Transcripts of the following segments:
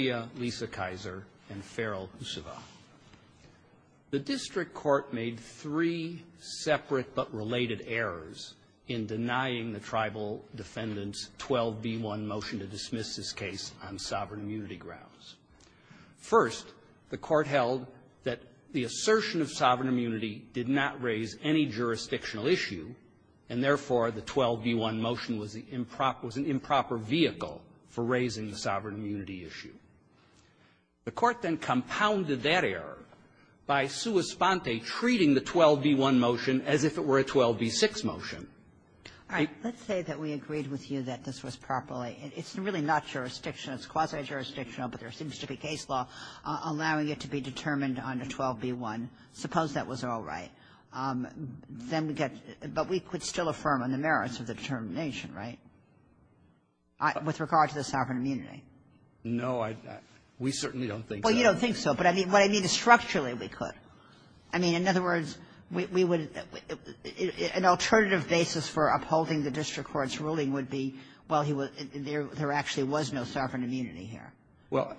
v. Lisa Kizer and Farrell Gusevo. The district court made three separate but related errors in denying the Tribal Defendant's 12b1 motion to dismiss this case on sovereign immunity grounds. First, the Court held that the assertion of sovereign immunity did not raise any jurisdictional issue, and therefore, the 12b1 motion was the improper – was an improper vehicle for raising the sovereign immunity issue. The Court then compounded that error by sua sponte treating the 12b1 motion as if it were a 12b6 motion. Ginsburg. All right. Let's say that we agreed with you that this was properly – it's really not jurisdictional. It's quasi-jurisdictional, but there seems to be case law allowing it to be determined on a 12b1. Suppose that was all right. Then we get – but we could still affirm on the merits of the determination, right, with regard to the sovereign immunity? No, I – we certainly don't think so. Well, you don't think so, but what I mean is structurally we could. I mean, in other words, we would – an alternative basis for upholding the district court's ruling would be, well, he would – there actually was no sovereign immunity here. Well,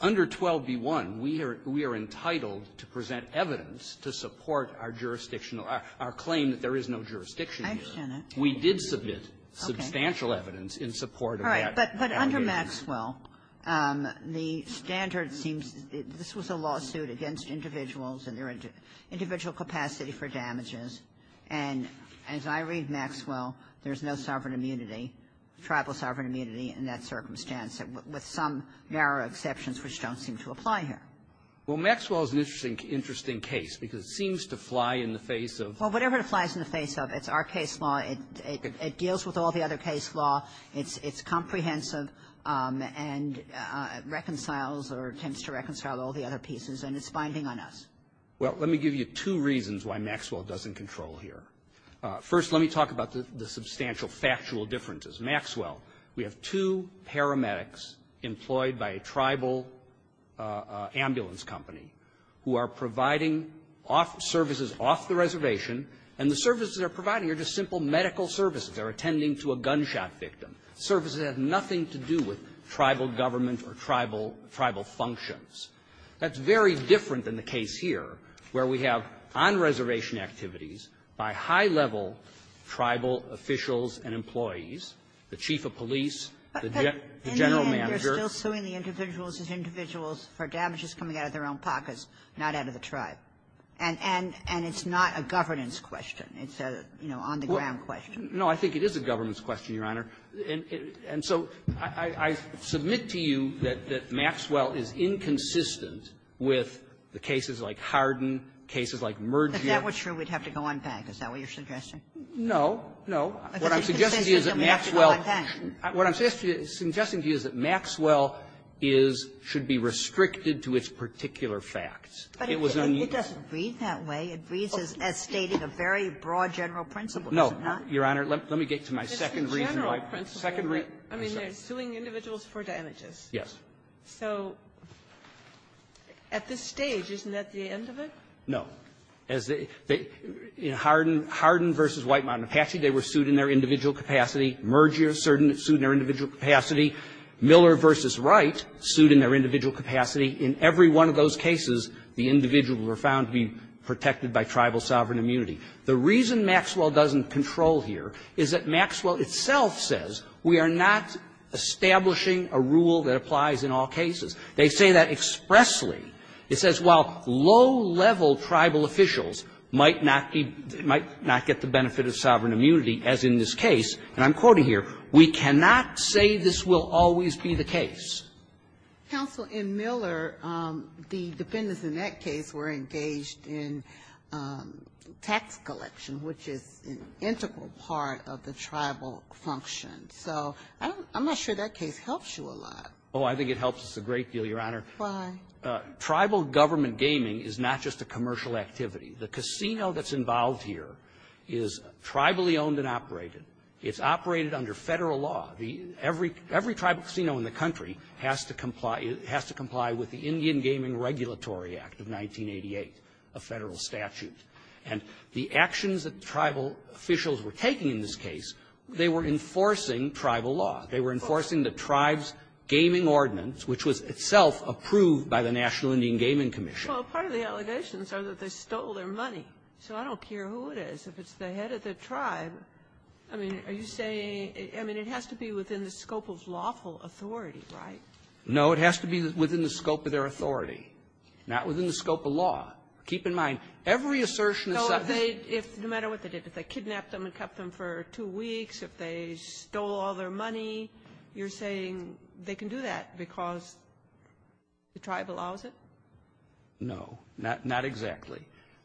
under 12b1, we are – we are entitled to present evidence to support our jurisdictional – our claim that there is no jurisdiction here. I understand that. We did submit substantial evidence in support of that. All right. But under Maxwell, the standard seems – this was a lawsuit against individuals and their individual capacity for damages. And as I read Maxwell, there's no sovereign immunity, tribal sovereign immunity in that circumstance, with some narrow exceptions which don't seem to apply here. Well, Maxwell is an interesting case because it seems to fly in the face of – Well, whatever it flies in the face of, it's our case law. It deals with all the other case law. It's comprehensive and reconciles or attempts to reconcile all the other pieces. And it's binding on us. Well, let me give you two reasons why Maxwell doesn't control here. First, let me talk about the substantial factual differences. Maxwell, we have two paramedics employed by a tribal ambulance company who are providing services off the reservation, and the services they're providing are just simple medical services. They're attending to a gunshot victim. Services that have nothing to do with tribal government or tribal functions. That's very different than the case here, where we have on-reservation activities by high-level tribal officials and employees, the chief of police, the general manager. But in the end, they're still suing the individuals as individuals for damages coming out of their own pockets, not out of the tribe. And it's not a governance question. It's a, you know, on-the-ground question. No, I think it is a governance question, Your Honor. And so I submit to you that Maxwell is inconsistent with the cases like Hardin, cases like Merger. If that were true, we'd have to go on back. Is that what you're suggesting? No. No. What I'm suggesting to you is that Maxwell — If it's inconsistent, we have to go on back. What I'm suggesting to you is that Maxwell is — should be restricted to its particular facts. It was unused. But it doesn't read that way. No. Your Honor, let me get to my second reason why we're here. I mean, they're suing individuals for damages. Yes. So at this stage, isn't that the end of it? No. As they — in Hardin v. White Mountain Apache, they were sued in their individual capacity. Merger, certain — sued in their individual capacity. Miller v. Wright, sued in their individual capacity. In every one of those cases, the individuals were found to be protected by tribal sovereign immunity. The reason Maxwell doesn't control here is that Maxwell itself says we are not establishing a rule that applies in all cases. They say that expressly. It says, while low-level tribal officials might not be — might not get the benefit of sovereign immunity, as in this case, and I'm quoting here, we cannot say this will always be the case. Counsel, in Miller, the defendants in that case were engaged in tax collection, which is an integral part of the tribal function. So I'm not sure that case helps you a lot. Oh, I think it helps us a great deal, Your Honor. Why? Tribal government gaming is not just a commercial activity. The casino that's involved here is tribally owned and operated. It's operated under Federal law. Every tribal casino in the country has to comply — has to comply with the Indian Gaming Regulatory Act of 1988, a Federal statute. And the actions that tribal officials were taking in this case, they were enforcing tribal law. They were enforcing the tribe's gaming ordinance, which was itself approved by the National Indian Gaming Commission. Well, part of the allegations are that they stole their money. So I don't care who it is. If it's the head of the tribe, I mean, are you saying — I mean, it has to be one within the scope of lawful authority, right? No. It has to be within the scope of their authority, not within the scope of law. Keep in mind, every assertion is — So if they — no matter what they did, if they kidnapped them and kept them for two weeks, if they stole all their money, you're saying they can do that because the tribe allows it? No, not — not exactly.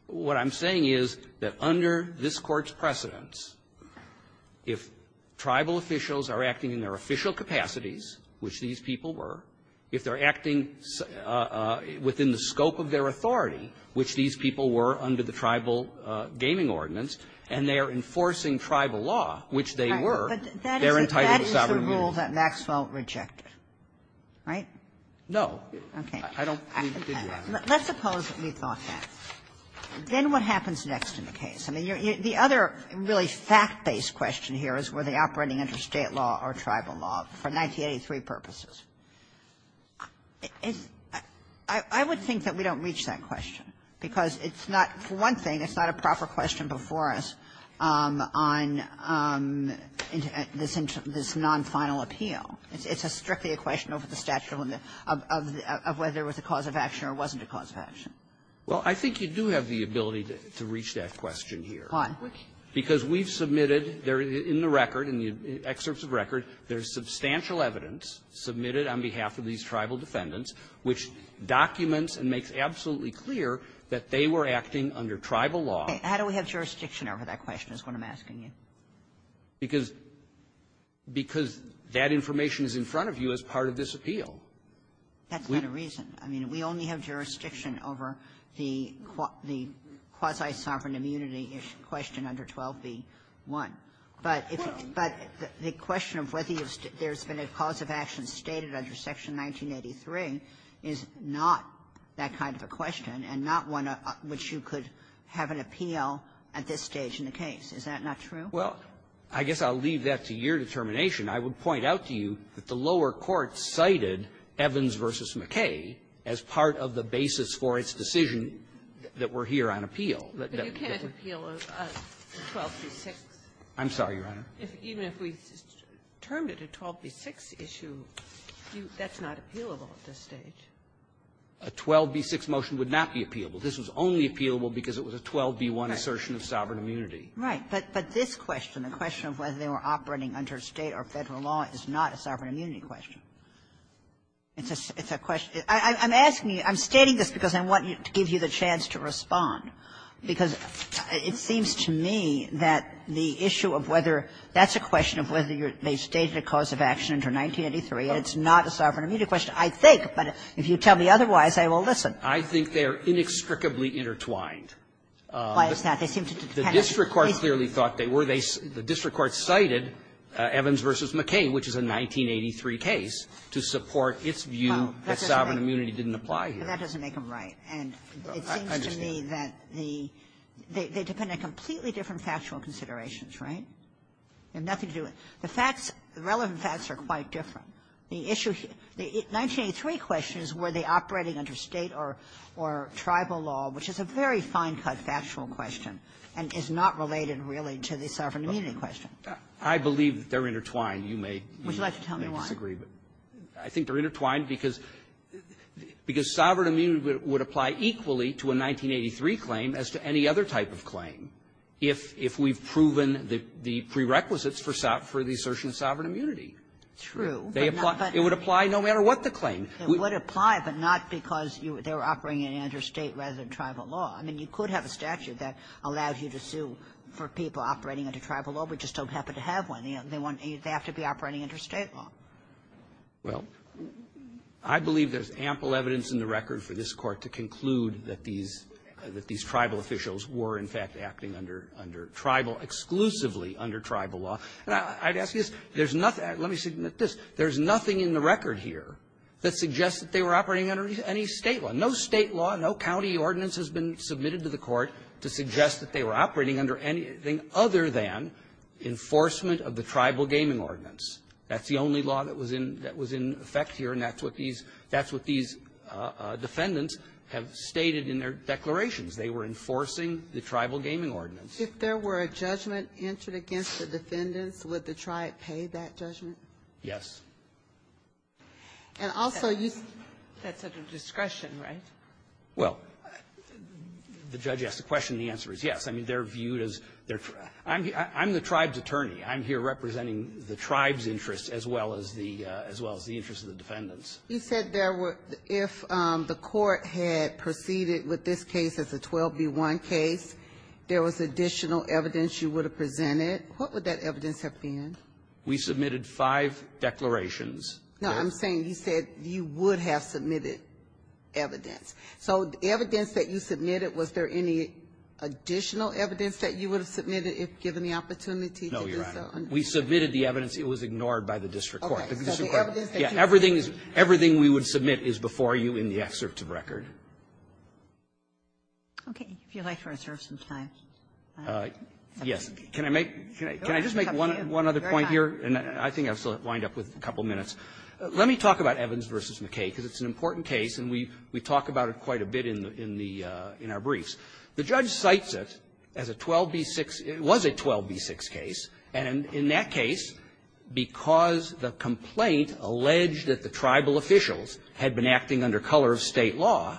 What I'm saying is that under this Court's precedence, if tribal officials are acting in their official capacities, which these people were, if they're acting within the scope of their authority, which these people were under the tribal gaming ordinance, and they're enforcing tribal law, which they were, they're entitled to sovereignty. That is the rule that Maxwell rejected, right? No. Okay. I don't believe he did that. Let's suppose that we thought that. Then what happens next in the case? I mean, the other really fact-based question here is, were they operating under state law or tribal law for 1983 purposes? I would think that we don't reach that question, because it's not — for one thing, it's not a proper question before us on this non-final appeal. It's a strictly a question over the statute of whether it was a cause of action or wasn't a cause of action. Well, I think you do have the ability to reach that question here. Why? Because we've submitted there in the record, in the excerpts of record, there's substantial evidence submitted on behalf of these tribal defendants which documents and makes absolutely clear that they were acting under tribal law. How do we have jurisdiction over that question is what I'm asking you. Because that information is in front of you as part of this appeal. That's not a reason. I mean, we only have jurisdiction over the quasi-sovereign immunity issue, question under 12b-1. But if it's — but the question of whether there's been a cause of action stated under Section 1983 is not that kind of a question and not one which you could have an appeal at this stage in the case. Is that not true? Well, I guess I'll leave that to your determination. I would point out to you that the lower court cited Evans v. McKay as part of the basis for its decision that we're here on appeal. But you can't appeal a 12b-6. I'm sorry, Your Honor. Even if we termed it a 12b-6 issue, that's not appealable at this stage. A 12b-6 motion would not be appealable. This was only appealable because it was a 12b-1 assertion of sovereign immunity. Right. But this question, the question of whether they were operating under State or Federal law, is not a sovereign immunity question. It's a question — I'm asking you — I'm stating this because I want to give you the chance to respond, because it seems to me that the issue of whether — that's a question of whether they stated a cause of action under 1983, and it's not a sovereign immunity question, I think. But if you tell me otherwise, I will listen. I think they are inextricably intertwined. Why is that? They seem to depend on the case. The district court clearly thought they were. They — the district court cited Evans v. McCain, which is a 1983 case, to support its view that sovereign immunity didn't apply here. That doesn't make them right. And it seems to me that the — they depend on completely different factual considerations. Right? They have nothing to do with — the facts, the relevant facts are quite different. The issue — the 1983 question is were they operating under State or tribal law, which is a very fine-cut factual question. And it's not related, really, to the sovereign immunity question. I believe that they're intertwined. You may disagree, but — Would you like to tell me why? I think they're intertwined because — because sovereign immunity would apply equally to a 1983 claim as to any other type of claim if — if we've proven the prerequisites for the assertion of sovereign immunity. True. They apply — it would apply no matter what the claim. It would apply, but not because they were operating under State rather than tribal law. I mean, you could have a statute that allows you to sue for people operating under tribal law, but you just don't happen to have one. They won't — they have to be operating under State law. Well, I believe there's ample evidence in the record for this Court to conclude that these — that these tribal officials were, in fact, acting under — under tribal — exclusively under tribal law. And I'd ask you this. There's nothing — let me submit this. There's nothing in the record here that suggests that they were operating under any State law. No State law, no county ordinance has been submitted to the Court to suggest that they were operating under anything other than enforcement of the tribal gaming ordinance. That's the only law that was in — that was in effect here, and that's what these — that's what these defendants have stated in their declarations. They were enforcing the tribal gaming ordinance. If there were a judgment entered against the defendants, would the tribe pay that judgment? Yes. And also, you — That's at their discretion, right? Well, the judge asked the question. The answer is yes. I mean, they're viewed as — I'm the tribe's attorney. I'm here representing the tribe's interests as well as the — as well as the interests of the defendants. You said there were — if the Court had proceeded with this case as a 12B1 case, there was additional evidence you would have presented. What would that evidence have been? We submitted five declarations. No, I'm saying you said you would have submitted evidence. So the evidence that you submitted, was there any additional evidence that you would have submitted if given the opportunity to do so? No, Your Honor. We submitted the evidence. It was ignored by the district court. Okay. So the evidence that you submitted — Yeah. Everything is — everything we would submit is before you in the excerpt of record. Okay. If you'd like to reserve some time. Yes. Can I make — can I just make one other point? Go right ahead. And I think I still wind up with a couple minutes. Let me talk about Evans v. McKay, because it's an important case, and we — we talk about it quite a bit in the — in the — in our briefs. The judge cites it as a 12B6 — it was a 12B6 case. And in that case, because the complaint alleged that the tribal officials had been acting under color of State law,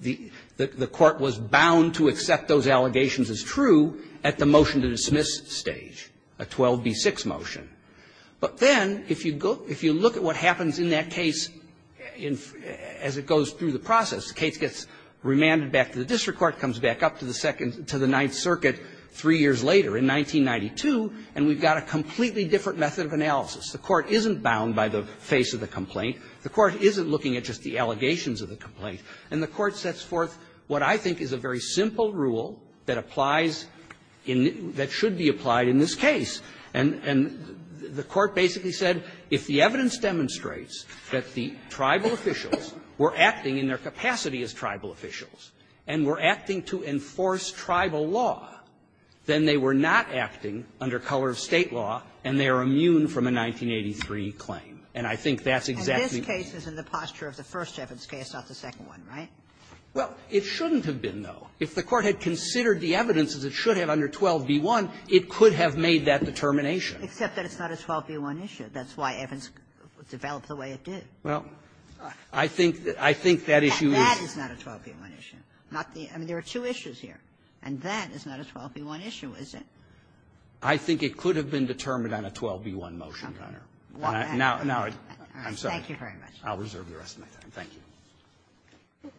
the — the court was bound to accept those allegations as true at the motion-to-dismiss stage, a 12B6 motion. But then, if you go — if you look at what happens in that case in — as it goes through the process, the case gets remanded back to the district court, comes back up to the second — to the Ninth Circuit three years later in 1992, and we've got a completely different method of analysis. The court isn't bound by the face of the complaint. The court isn't looking at just the allegations of the complaint. And the court sets forth what I think is a very simple rule that applies in — that should be applied in this case. And — and the court basically said, if the evidence demonstrates that the tribal officials were acting in their capacity as tribal officials and were acting to enforce tribal law, then they were not acting under color of State law, and they are immune from a 1983 claim. And I think that's exactly the case. In the posture of the first Evans case, not the second, right? Well, it shouldn't have been, though. If the court had considered the evidence, as it should have under 12b1, it could have made that determination. Except that it's not a 12b1 issue. That's why Evans developed the way it did. Well, I think that issue is — And that is not a 12b1 issue. Not the — and there are two issues here, and that is not a 12b1 issue, is it? I think it could have been determined on a 12b1 motion under — What matter – Now ‒ now I — I'm sorry. Thank you very much. I'll reserve the rest of my time. Thank you.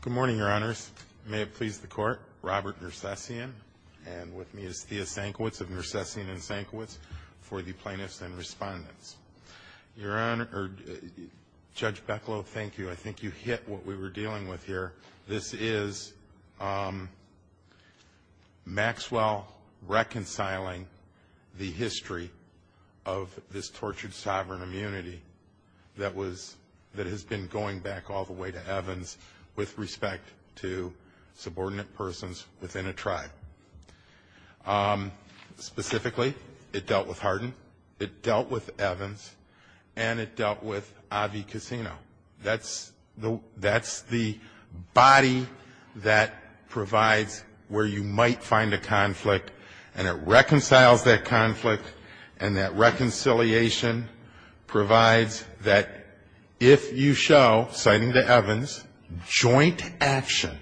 Good morning, Your Honors. May it please the Court. Robert Nersessian, and with me is Thea Senkiewicz of Nersessian & Senkiewicz for the plaintiffs and Respondents. Your Honor — or Judge Becklo, thank you. I think you hit what we were dealing with here. This is Maxwell reconciling the history of this tortured sovereign immunity that was – that has been going back all the way to Evans with respect to subordinate persons within a tribe. Specifically, it dealt with Hardin. It dealt with Evans. And it dealt with Avi Cassino. That's the body that provides where you might find a conflict. And it reconciles that conflict. And that reconciliation provides that if you show, citing the Evans, joint action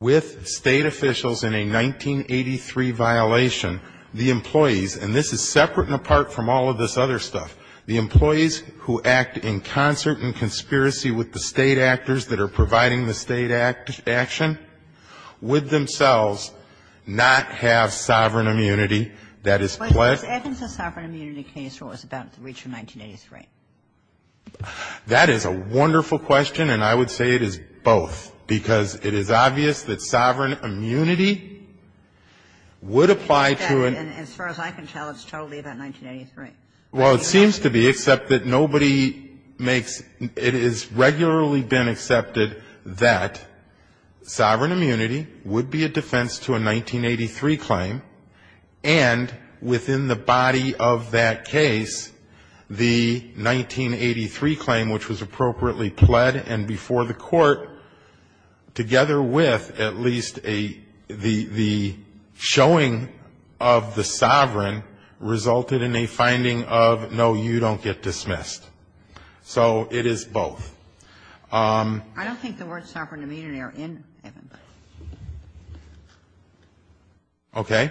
with state officials in a 1983 violation, the employees – and this is separate and apart from all of this other stuff – the employees who act in concert and conspiracy with the state actors that are providing the state action, would themselves not have sovereign immunity that is pledged? But was Evans a sovereign immunity case or was it about the reach of 1983? That is a wonderful question, and I would say it is both, because it is obvious that sovereign immunity would apply to an – And as far as I can tell, it's totally about 1983. Well, it seems to be, except that nobody makes – it has regularly been accepted that sovereign immunity would be a defense to a 1983 claim, and within the body of that case, the 1983 claim, which was appropriately pled and before the Court, together with at least a – the showing of the sovereign resulted in a finding of, no, you don't get dismissed. So it is both. I don't think the word sovereign immunity are in Evans. Okay.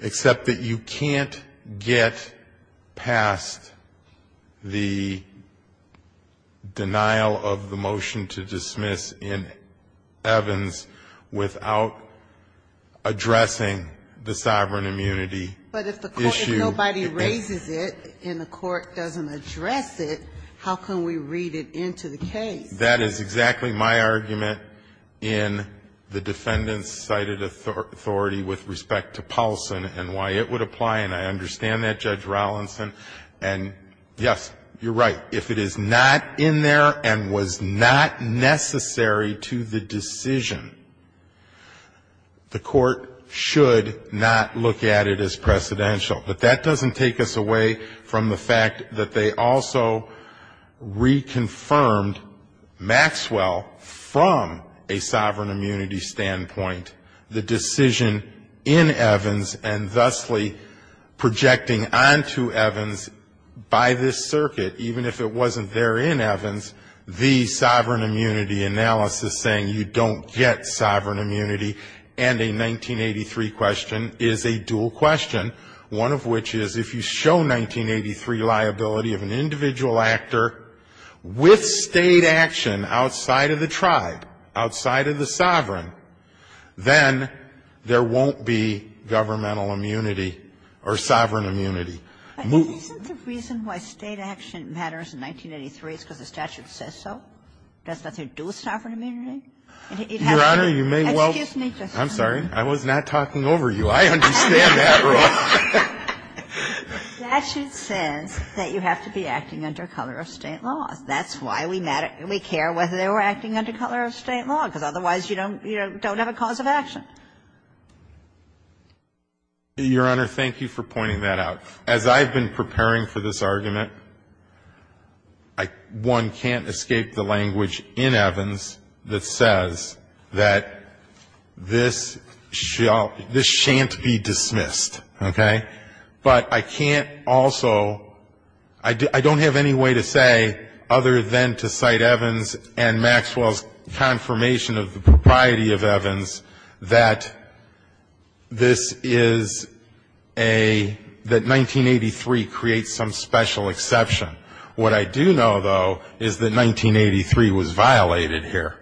Except that you can't get past the denial of the motion to dismiss in Evans without addressing the sovereign immunity issue. But if the Court – if nobody raises it and the Court doesn't address it, how can we read it into the case? That is exactly my argument in the defendant's cited authority with respect to Paulson and why it would apply, and I understand that, Judge Rollinson. And, yes, you're right. If it is not in there and was not necessary to the decision, the Court should not look at it as precedential. But that doesn't take us away from the fact that they also reconfirmed Maxwell from a sovereign immunity standpoint. The decision in Evans and thusly projecting onto Evans by this circuit, even if it wasn't there in Evans, the sovereign immunity analysis saying you don't get sovereign immunity and a 1983 question is a dual question. One of which is if you show 1983 liability of an individual actor with State action outside of the tribe, outside of the sovereign, then there won't be governmental immunity or sovereign immunity. Isn't the reason why State action matters in 1983 is because the statute says so? Does nothing to do with sovereign immunity? It has to be – excuse me, Justice Sotomayor. Your Honor, you may well – I'm sorry, I was not talking over you. I understand that wrong. That should sense that you have to be acting under color of State laws. That's why we matter – we care whether they were acting under color of State law, because otherwise you don't have a cause of action. Your Honor, thank you for pointing that out. As I've been preparing for this argument, one can't escape the language in Evans that says that this shall – this shan't be dismissed, okay? But I can't also – I don't have any way to say, other than to cite Evans and Maxwell's confirmation of the propriety of Evans, that this is a – that 1983 creates some special exception. What I do know, though, is that 1983 was violated here.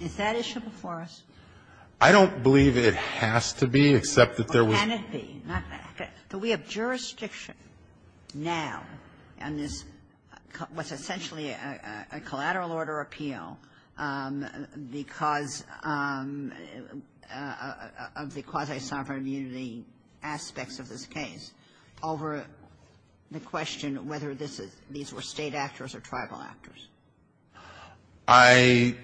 Is that issue before us? I don't believe it has to be, except that there was – Or can it be? Do we have jurisdiction now on this – what's essentially a collateral order appeal because of the quasi-sovereign immunity aspects of this case over the question of whether this is – these were State actors or Tribal actors? I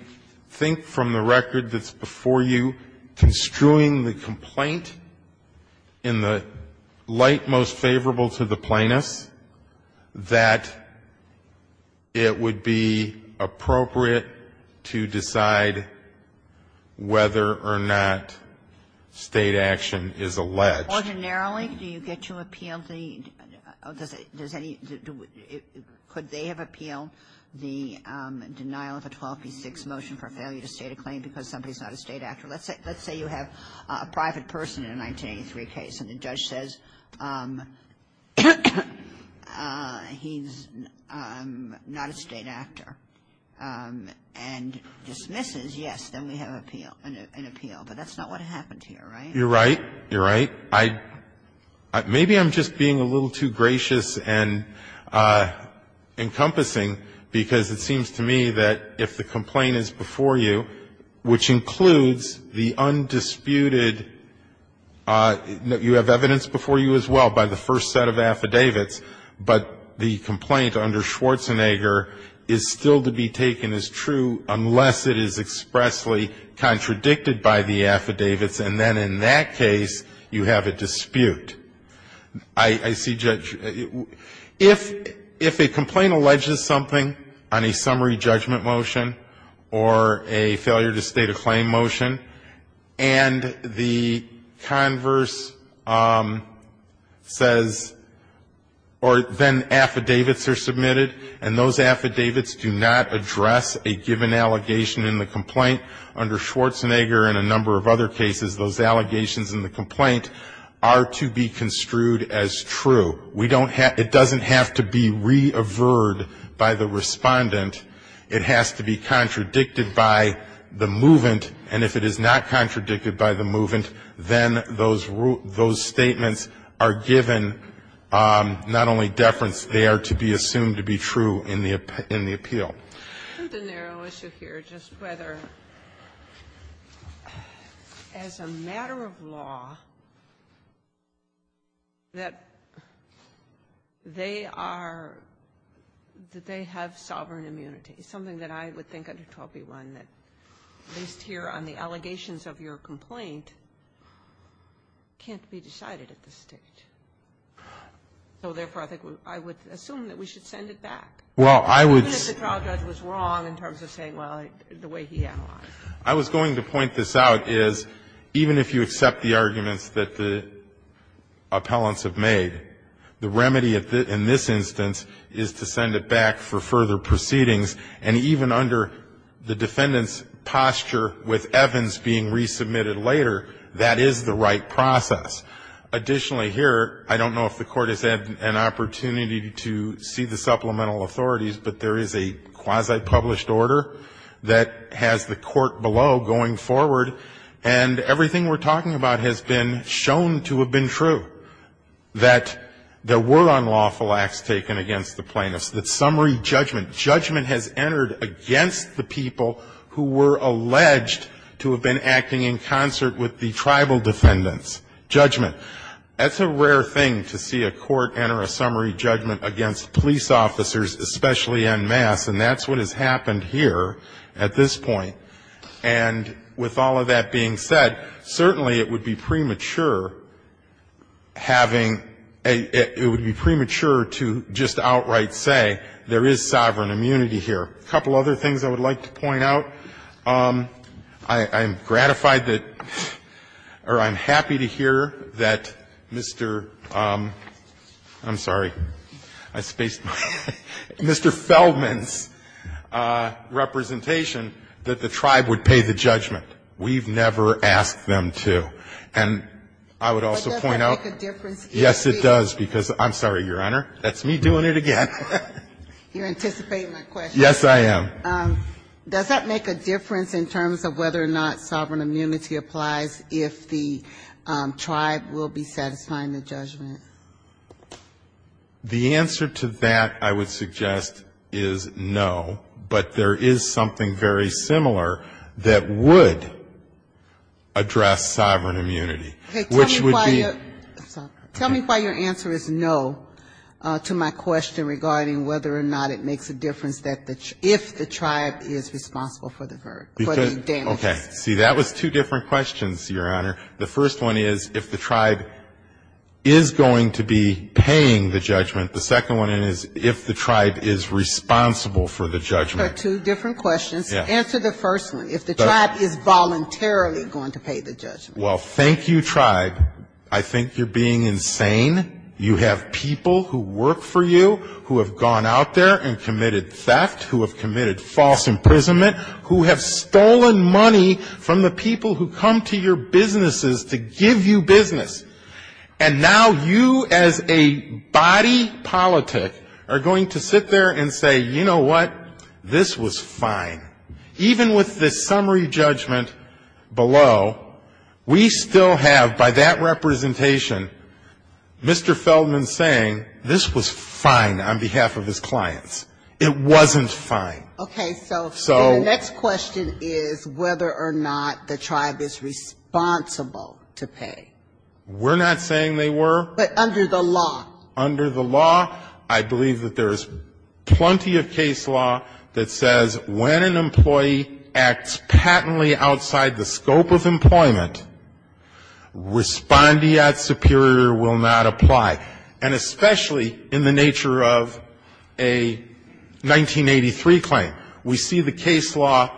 think from the record that's before you, construing the complaint in the light most favorable to the plaintiffs, that it would be appropriate to decide whether or not State action is alleged. Ordinarily, do you get to appeal the – does it – does any – could they have appealed the denial of a 12p6 motion for failure to state a claim because somebody is not a State actor? Let's say you have a private person in a 1983 case, and the judge says he's not a State actor and dismisses, yes, then we have appeal – an appeal. But that's not what happened here, right? You're right. You're right. I – maybe I'm just being a little too gracious and encompassing, because it seems to me that if the complaint is before you, which includes the undisputed – you have evidence before you as well by the first set of affidavits, but the complaint under Schwarzenegger is still to be taken as true unless it is expressly contradicted by the affidavits, and then in that case you have a dispute. I see, Judge, if a complaint alleges something on a summary judgment motion or a failure to state a claim motion, and the converse says – or then affidavits are submitted, and those affidavits do not address a given allegation in the complaint under Schwarzenegger and a number of other cases, those allegations in the complaint are to be construed as true. We don't – it doesn't have to be reavered by the respondent. It has to be contradicted by the movant, and if it is not contradicted by the movant, then those – those statements are given not only deference, they are to be assumed to be true in the – in the appeal. The narrow issue here, just whether, as a matter of law, that they are – that they have sovereign immunity, something that I would think under 12b1 that, at least here on the allegations of your complaint, can't be decided at this stage. So, therefore, I think I would assume that we should send it back. Well, I would – Even if the trial judge was wrong in terms of saying, well, the way he analyzed it. I was going to point this out, is even if you accept the arguments that the appellants have made, the remedy in this instance is to send it back for further proceedings, and even under the defendant's posture with Evans being resubmitted later, that is the right process. Additionally, here, I don't know if the Court has had an opportunity to see the supplemental authorities, but there is a quasi-published order that has the Court below going forward, and everything we're talking about has been shown to have been true, that there were unlawful acts taken against the plaintiffs, that summary judgment – judgment has entered against the people who were alleged to have been acting in concert with the tribal defendants. Judgment. That's a rare thing, to see a court enter a summary judgment against police officers, especially en masse, and that's what has happened here at this point. And with all of that being said, certainly it would be premature having – it would be premature to just outright say there is sovereign immunity here. A couple other things I would like to point out. I'm gratified that – or I'm happy to hear that Mr. – I'm sorry. I spaced my – Mr. Feldman's representation, that the tribe would pay the judgment. We've never asked them to. And I would also point out – But that doesn't make a difference, does it? Yes, it does, because – I'm sorry, Your Honor, that's me doing it again. You're anticipating my question. Yes, I am. Does that make a difference in terms of whether or not sovereign immunity applies if the tribe will be satisfying the judgment? The answer to that, I would suggest, is no. But there is something very similar that would address sovereign immunity, which would be – Tell me why your answer is no to my question regarding whether or not it makes a difference that the – if the tribe is responsible for the damage. Okay. See, that was two different questions, Your Honor. The first one is if the tribe is going to be paying the judgment. The second one is if the tribe is responsible for the judgment. They're two different questions. Yes. Well, thank you, tribe. I think you're being insane. You have people who work for you, who have gone out there and committed theft, who have committed false imprisonment, who have stolen money from the people who come to your businesses to give you business. And now you, as a body politic, are going to sit there and say, you know what? This was fine. Even with the summary judgment below, we still have, by that representation, Mr. Feldman saying, this was fine on behalf of his clients. It wasn't fine. Okay. So the next question is whether or not the tribe is responsible to pay. We're not saying they were. But under the law. I believe that there is plenty of case law that says when an employee acts patently outside the scope of employment, respondeat superior will not apply. And especially in the nature of a 1983 claim, we see the case law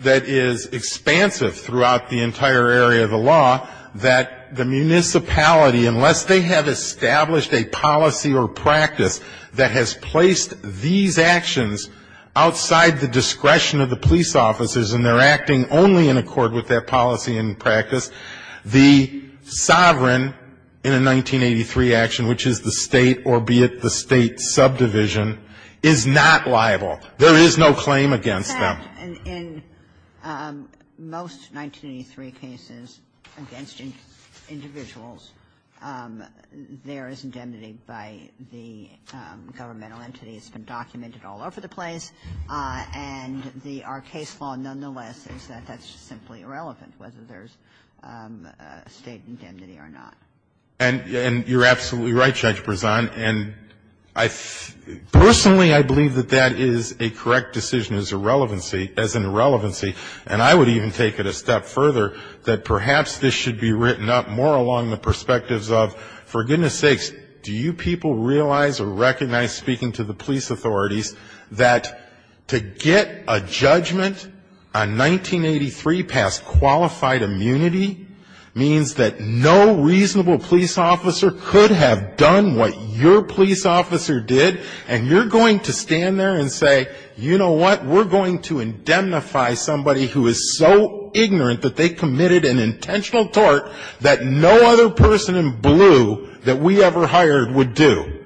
that is expansive throughout the entire area of the law, that the municipality, unless they have established a policy or practice that has placed these actions outside the discretion of the police officers, and they're acting only in accord with that policy and practice, the sovereign in a 1983 action, which is the State, albeit the State subdivision, is not liable. There is no claim against them. And in most 1983 cases against individuals, there is indemnity by the governmental entity. It's been documented all over the place. And the are case law, nonetheless, is that that's just simply irrelevant, whether there's State indemnity or not. And you're absolutely right, Judge Brezan. And I personally, I believe that that is a correct decision as a relevancy as an irrelevancy. And I would even take it a step further, that perhaps this should be written up more along the perspectives of, for goodness sakes, do you people realize or recognize, speaking to the police authorities, that to get a judgment on 1983 past qualified immunity means that no reasonable police officer could have done what your police officer did, and you're going to stand there and say, you know what, we're going to indemnify somebody who is so ignorant that they committed an intentional tort that no other person in blue that we ever hired would do.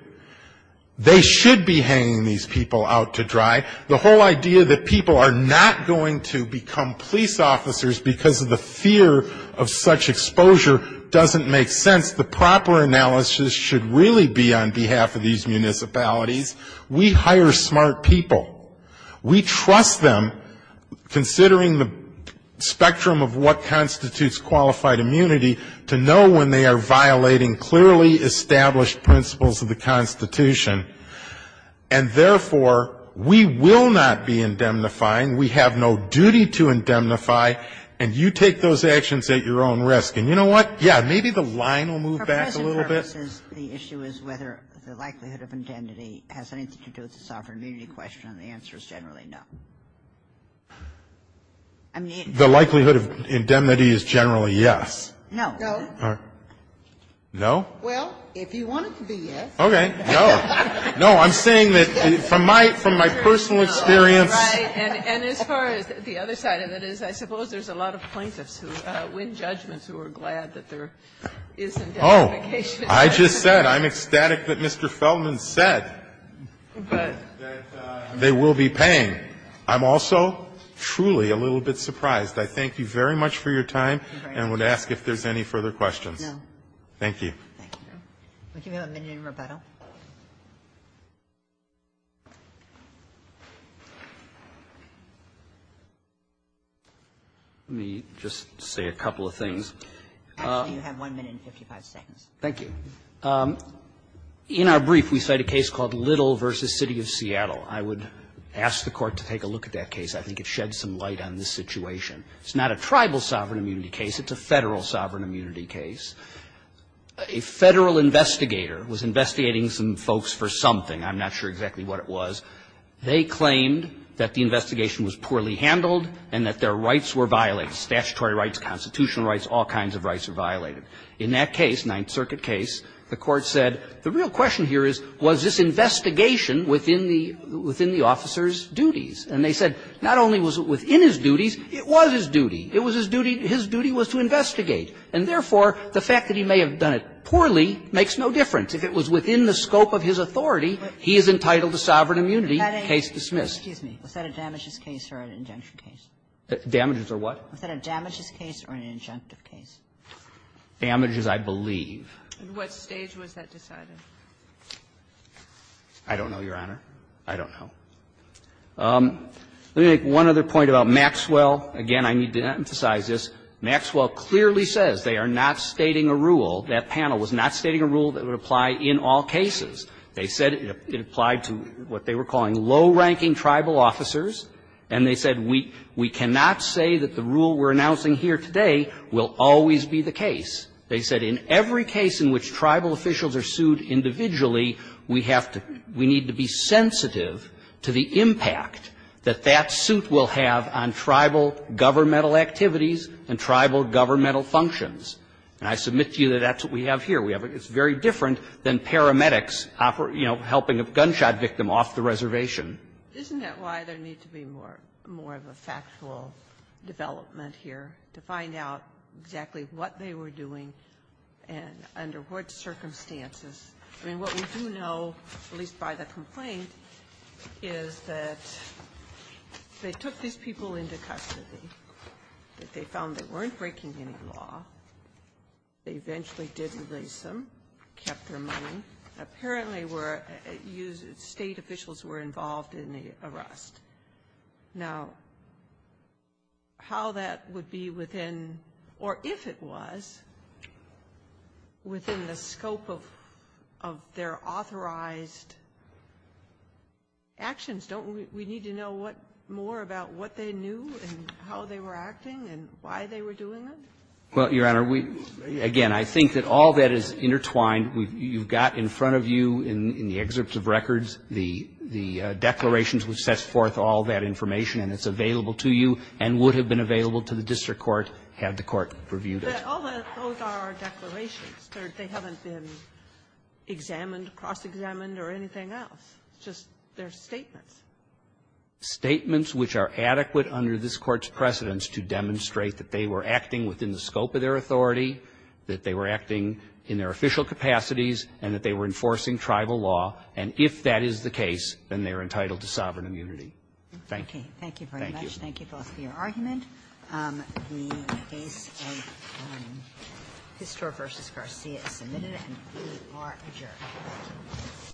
They should be hanging these people out to dry. The whole idea that people are not going to become police officers because of the behalf of these municipalities, we hire smart people. We trust them, considering the spectrum of what constitutes qualified immunity, to know when they are violating clearly established principles of the Constitution. And therefore, we will not be indemnifying, we have no duty to indemnify, and you take those actions at your own risk. And you know what? Yeah, maybe the line will move back a little bit. The issue is whether the likelihood of indemnity has anything to do with the sovereign immunity question, and the answer is generally no. The likelihood of indemnity is generally yes. No. No? Well, if you want it to be yes. Okay. No. No, I'm saying that from my personal experience. Right. And as far as the other side of it is, I suppose there's a lot of plaintiffs who win judgments who are glad that there isn't indemnification. Oh, I just said I'm ecstatic that Mr. Feldman said that they will be paying. I'm also truly a little bit surprised. I thank you very much for your time and would ask if there's any further questions. No. Thank you. Thank you. Would you have a minute in rebuttal? Let me just say a couple of things. Actually, you have 1 minute and 55 seconds. Thank you. In our brief, we cite a case called Little v. City of Seattle. I would ask the Court to take a look at that case. I think it sheds some light on this situation. It's not a tribal sovereign immunity case. It's a Federal sovereign immunity case. A Federal investigator was investigating some folks for something. I'm not sure exactly what it was. They claimed that the investigation was poorly handled and that their rights were violated, statutory rights, constitutional rights, all kinds of rights were violated. In that case, Ninth Circuit case, the Court said the real question here is was this investigation within the officer's duties. And they said not only was it within his duties, it was his duty. It was his duty. His duty was to investigate. And therefore, the fact that he may have done it poorly makes no difference. If it was within the scope of his authority, he is entitled to sovereign immunity. Case dismissed. Was that a damages case or an injunction case? Damages or what? Was that a damages case or an injunctive case? Damages, I believe. At what stage was that decided? I don't know, Your Honor. I don't know. Let me make one other point about Maxwell. Again, I need to emphasize this. Maxwell clearly says they are not stating a rule. That panel was not stating a rule that would apply in all cases. They said it applied to what they were calling low-ranking tribal officers. And they said we cannot say that the rule we're announcing here today will always be the case. They said in every case in which tribal officials are sued individually, we have to we need to be sensitive to the impact that that suit will have on tribal governmental activities and tribal governmental functions. And I submit to you that that's what we have here. It's very different than paramedics, you know, helping a gunshot victim off the reservation. Isn't that why there needs to be more of a factual development here, to find out exactly what they were doing and under what circumstances? I mean, what we do know, at least by the complaint, is that they took these people into custody, that they found they weren't breaking any law. They eventually did release them, kept their money. Apparently, state officials were involved in the arrest. Now, how that would be within, or if it was, within the scope of their authorized actions, don't we need to know what more about what they knew and how they were acting and why they were doing it? Well, Your Honor, again, I think that all that is intertwined. You've got in front of you in the excerpts of records the declarations which sets forth all that information, and it's available to you and would have been available to the district court had the court reviewed it. But all those are declarations. They haven't been examined, cross-examined, or anything else. Just they're statements. Statements which are adequate under this Court's precedence to demonstrate that they were acting within the scope of their authority, that they were acting in their official capacities, and that they were enforcing tribal law. And if that is the case, then they are entitled to sovereign immunity. Thank you. Thank you very much. Thank you both for your argument. The case of Pistor v. Garcia is submitted, and we are adjourned.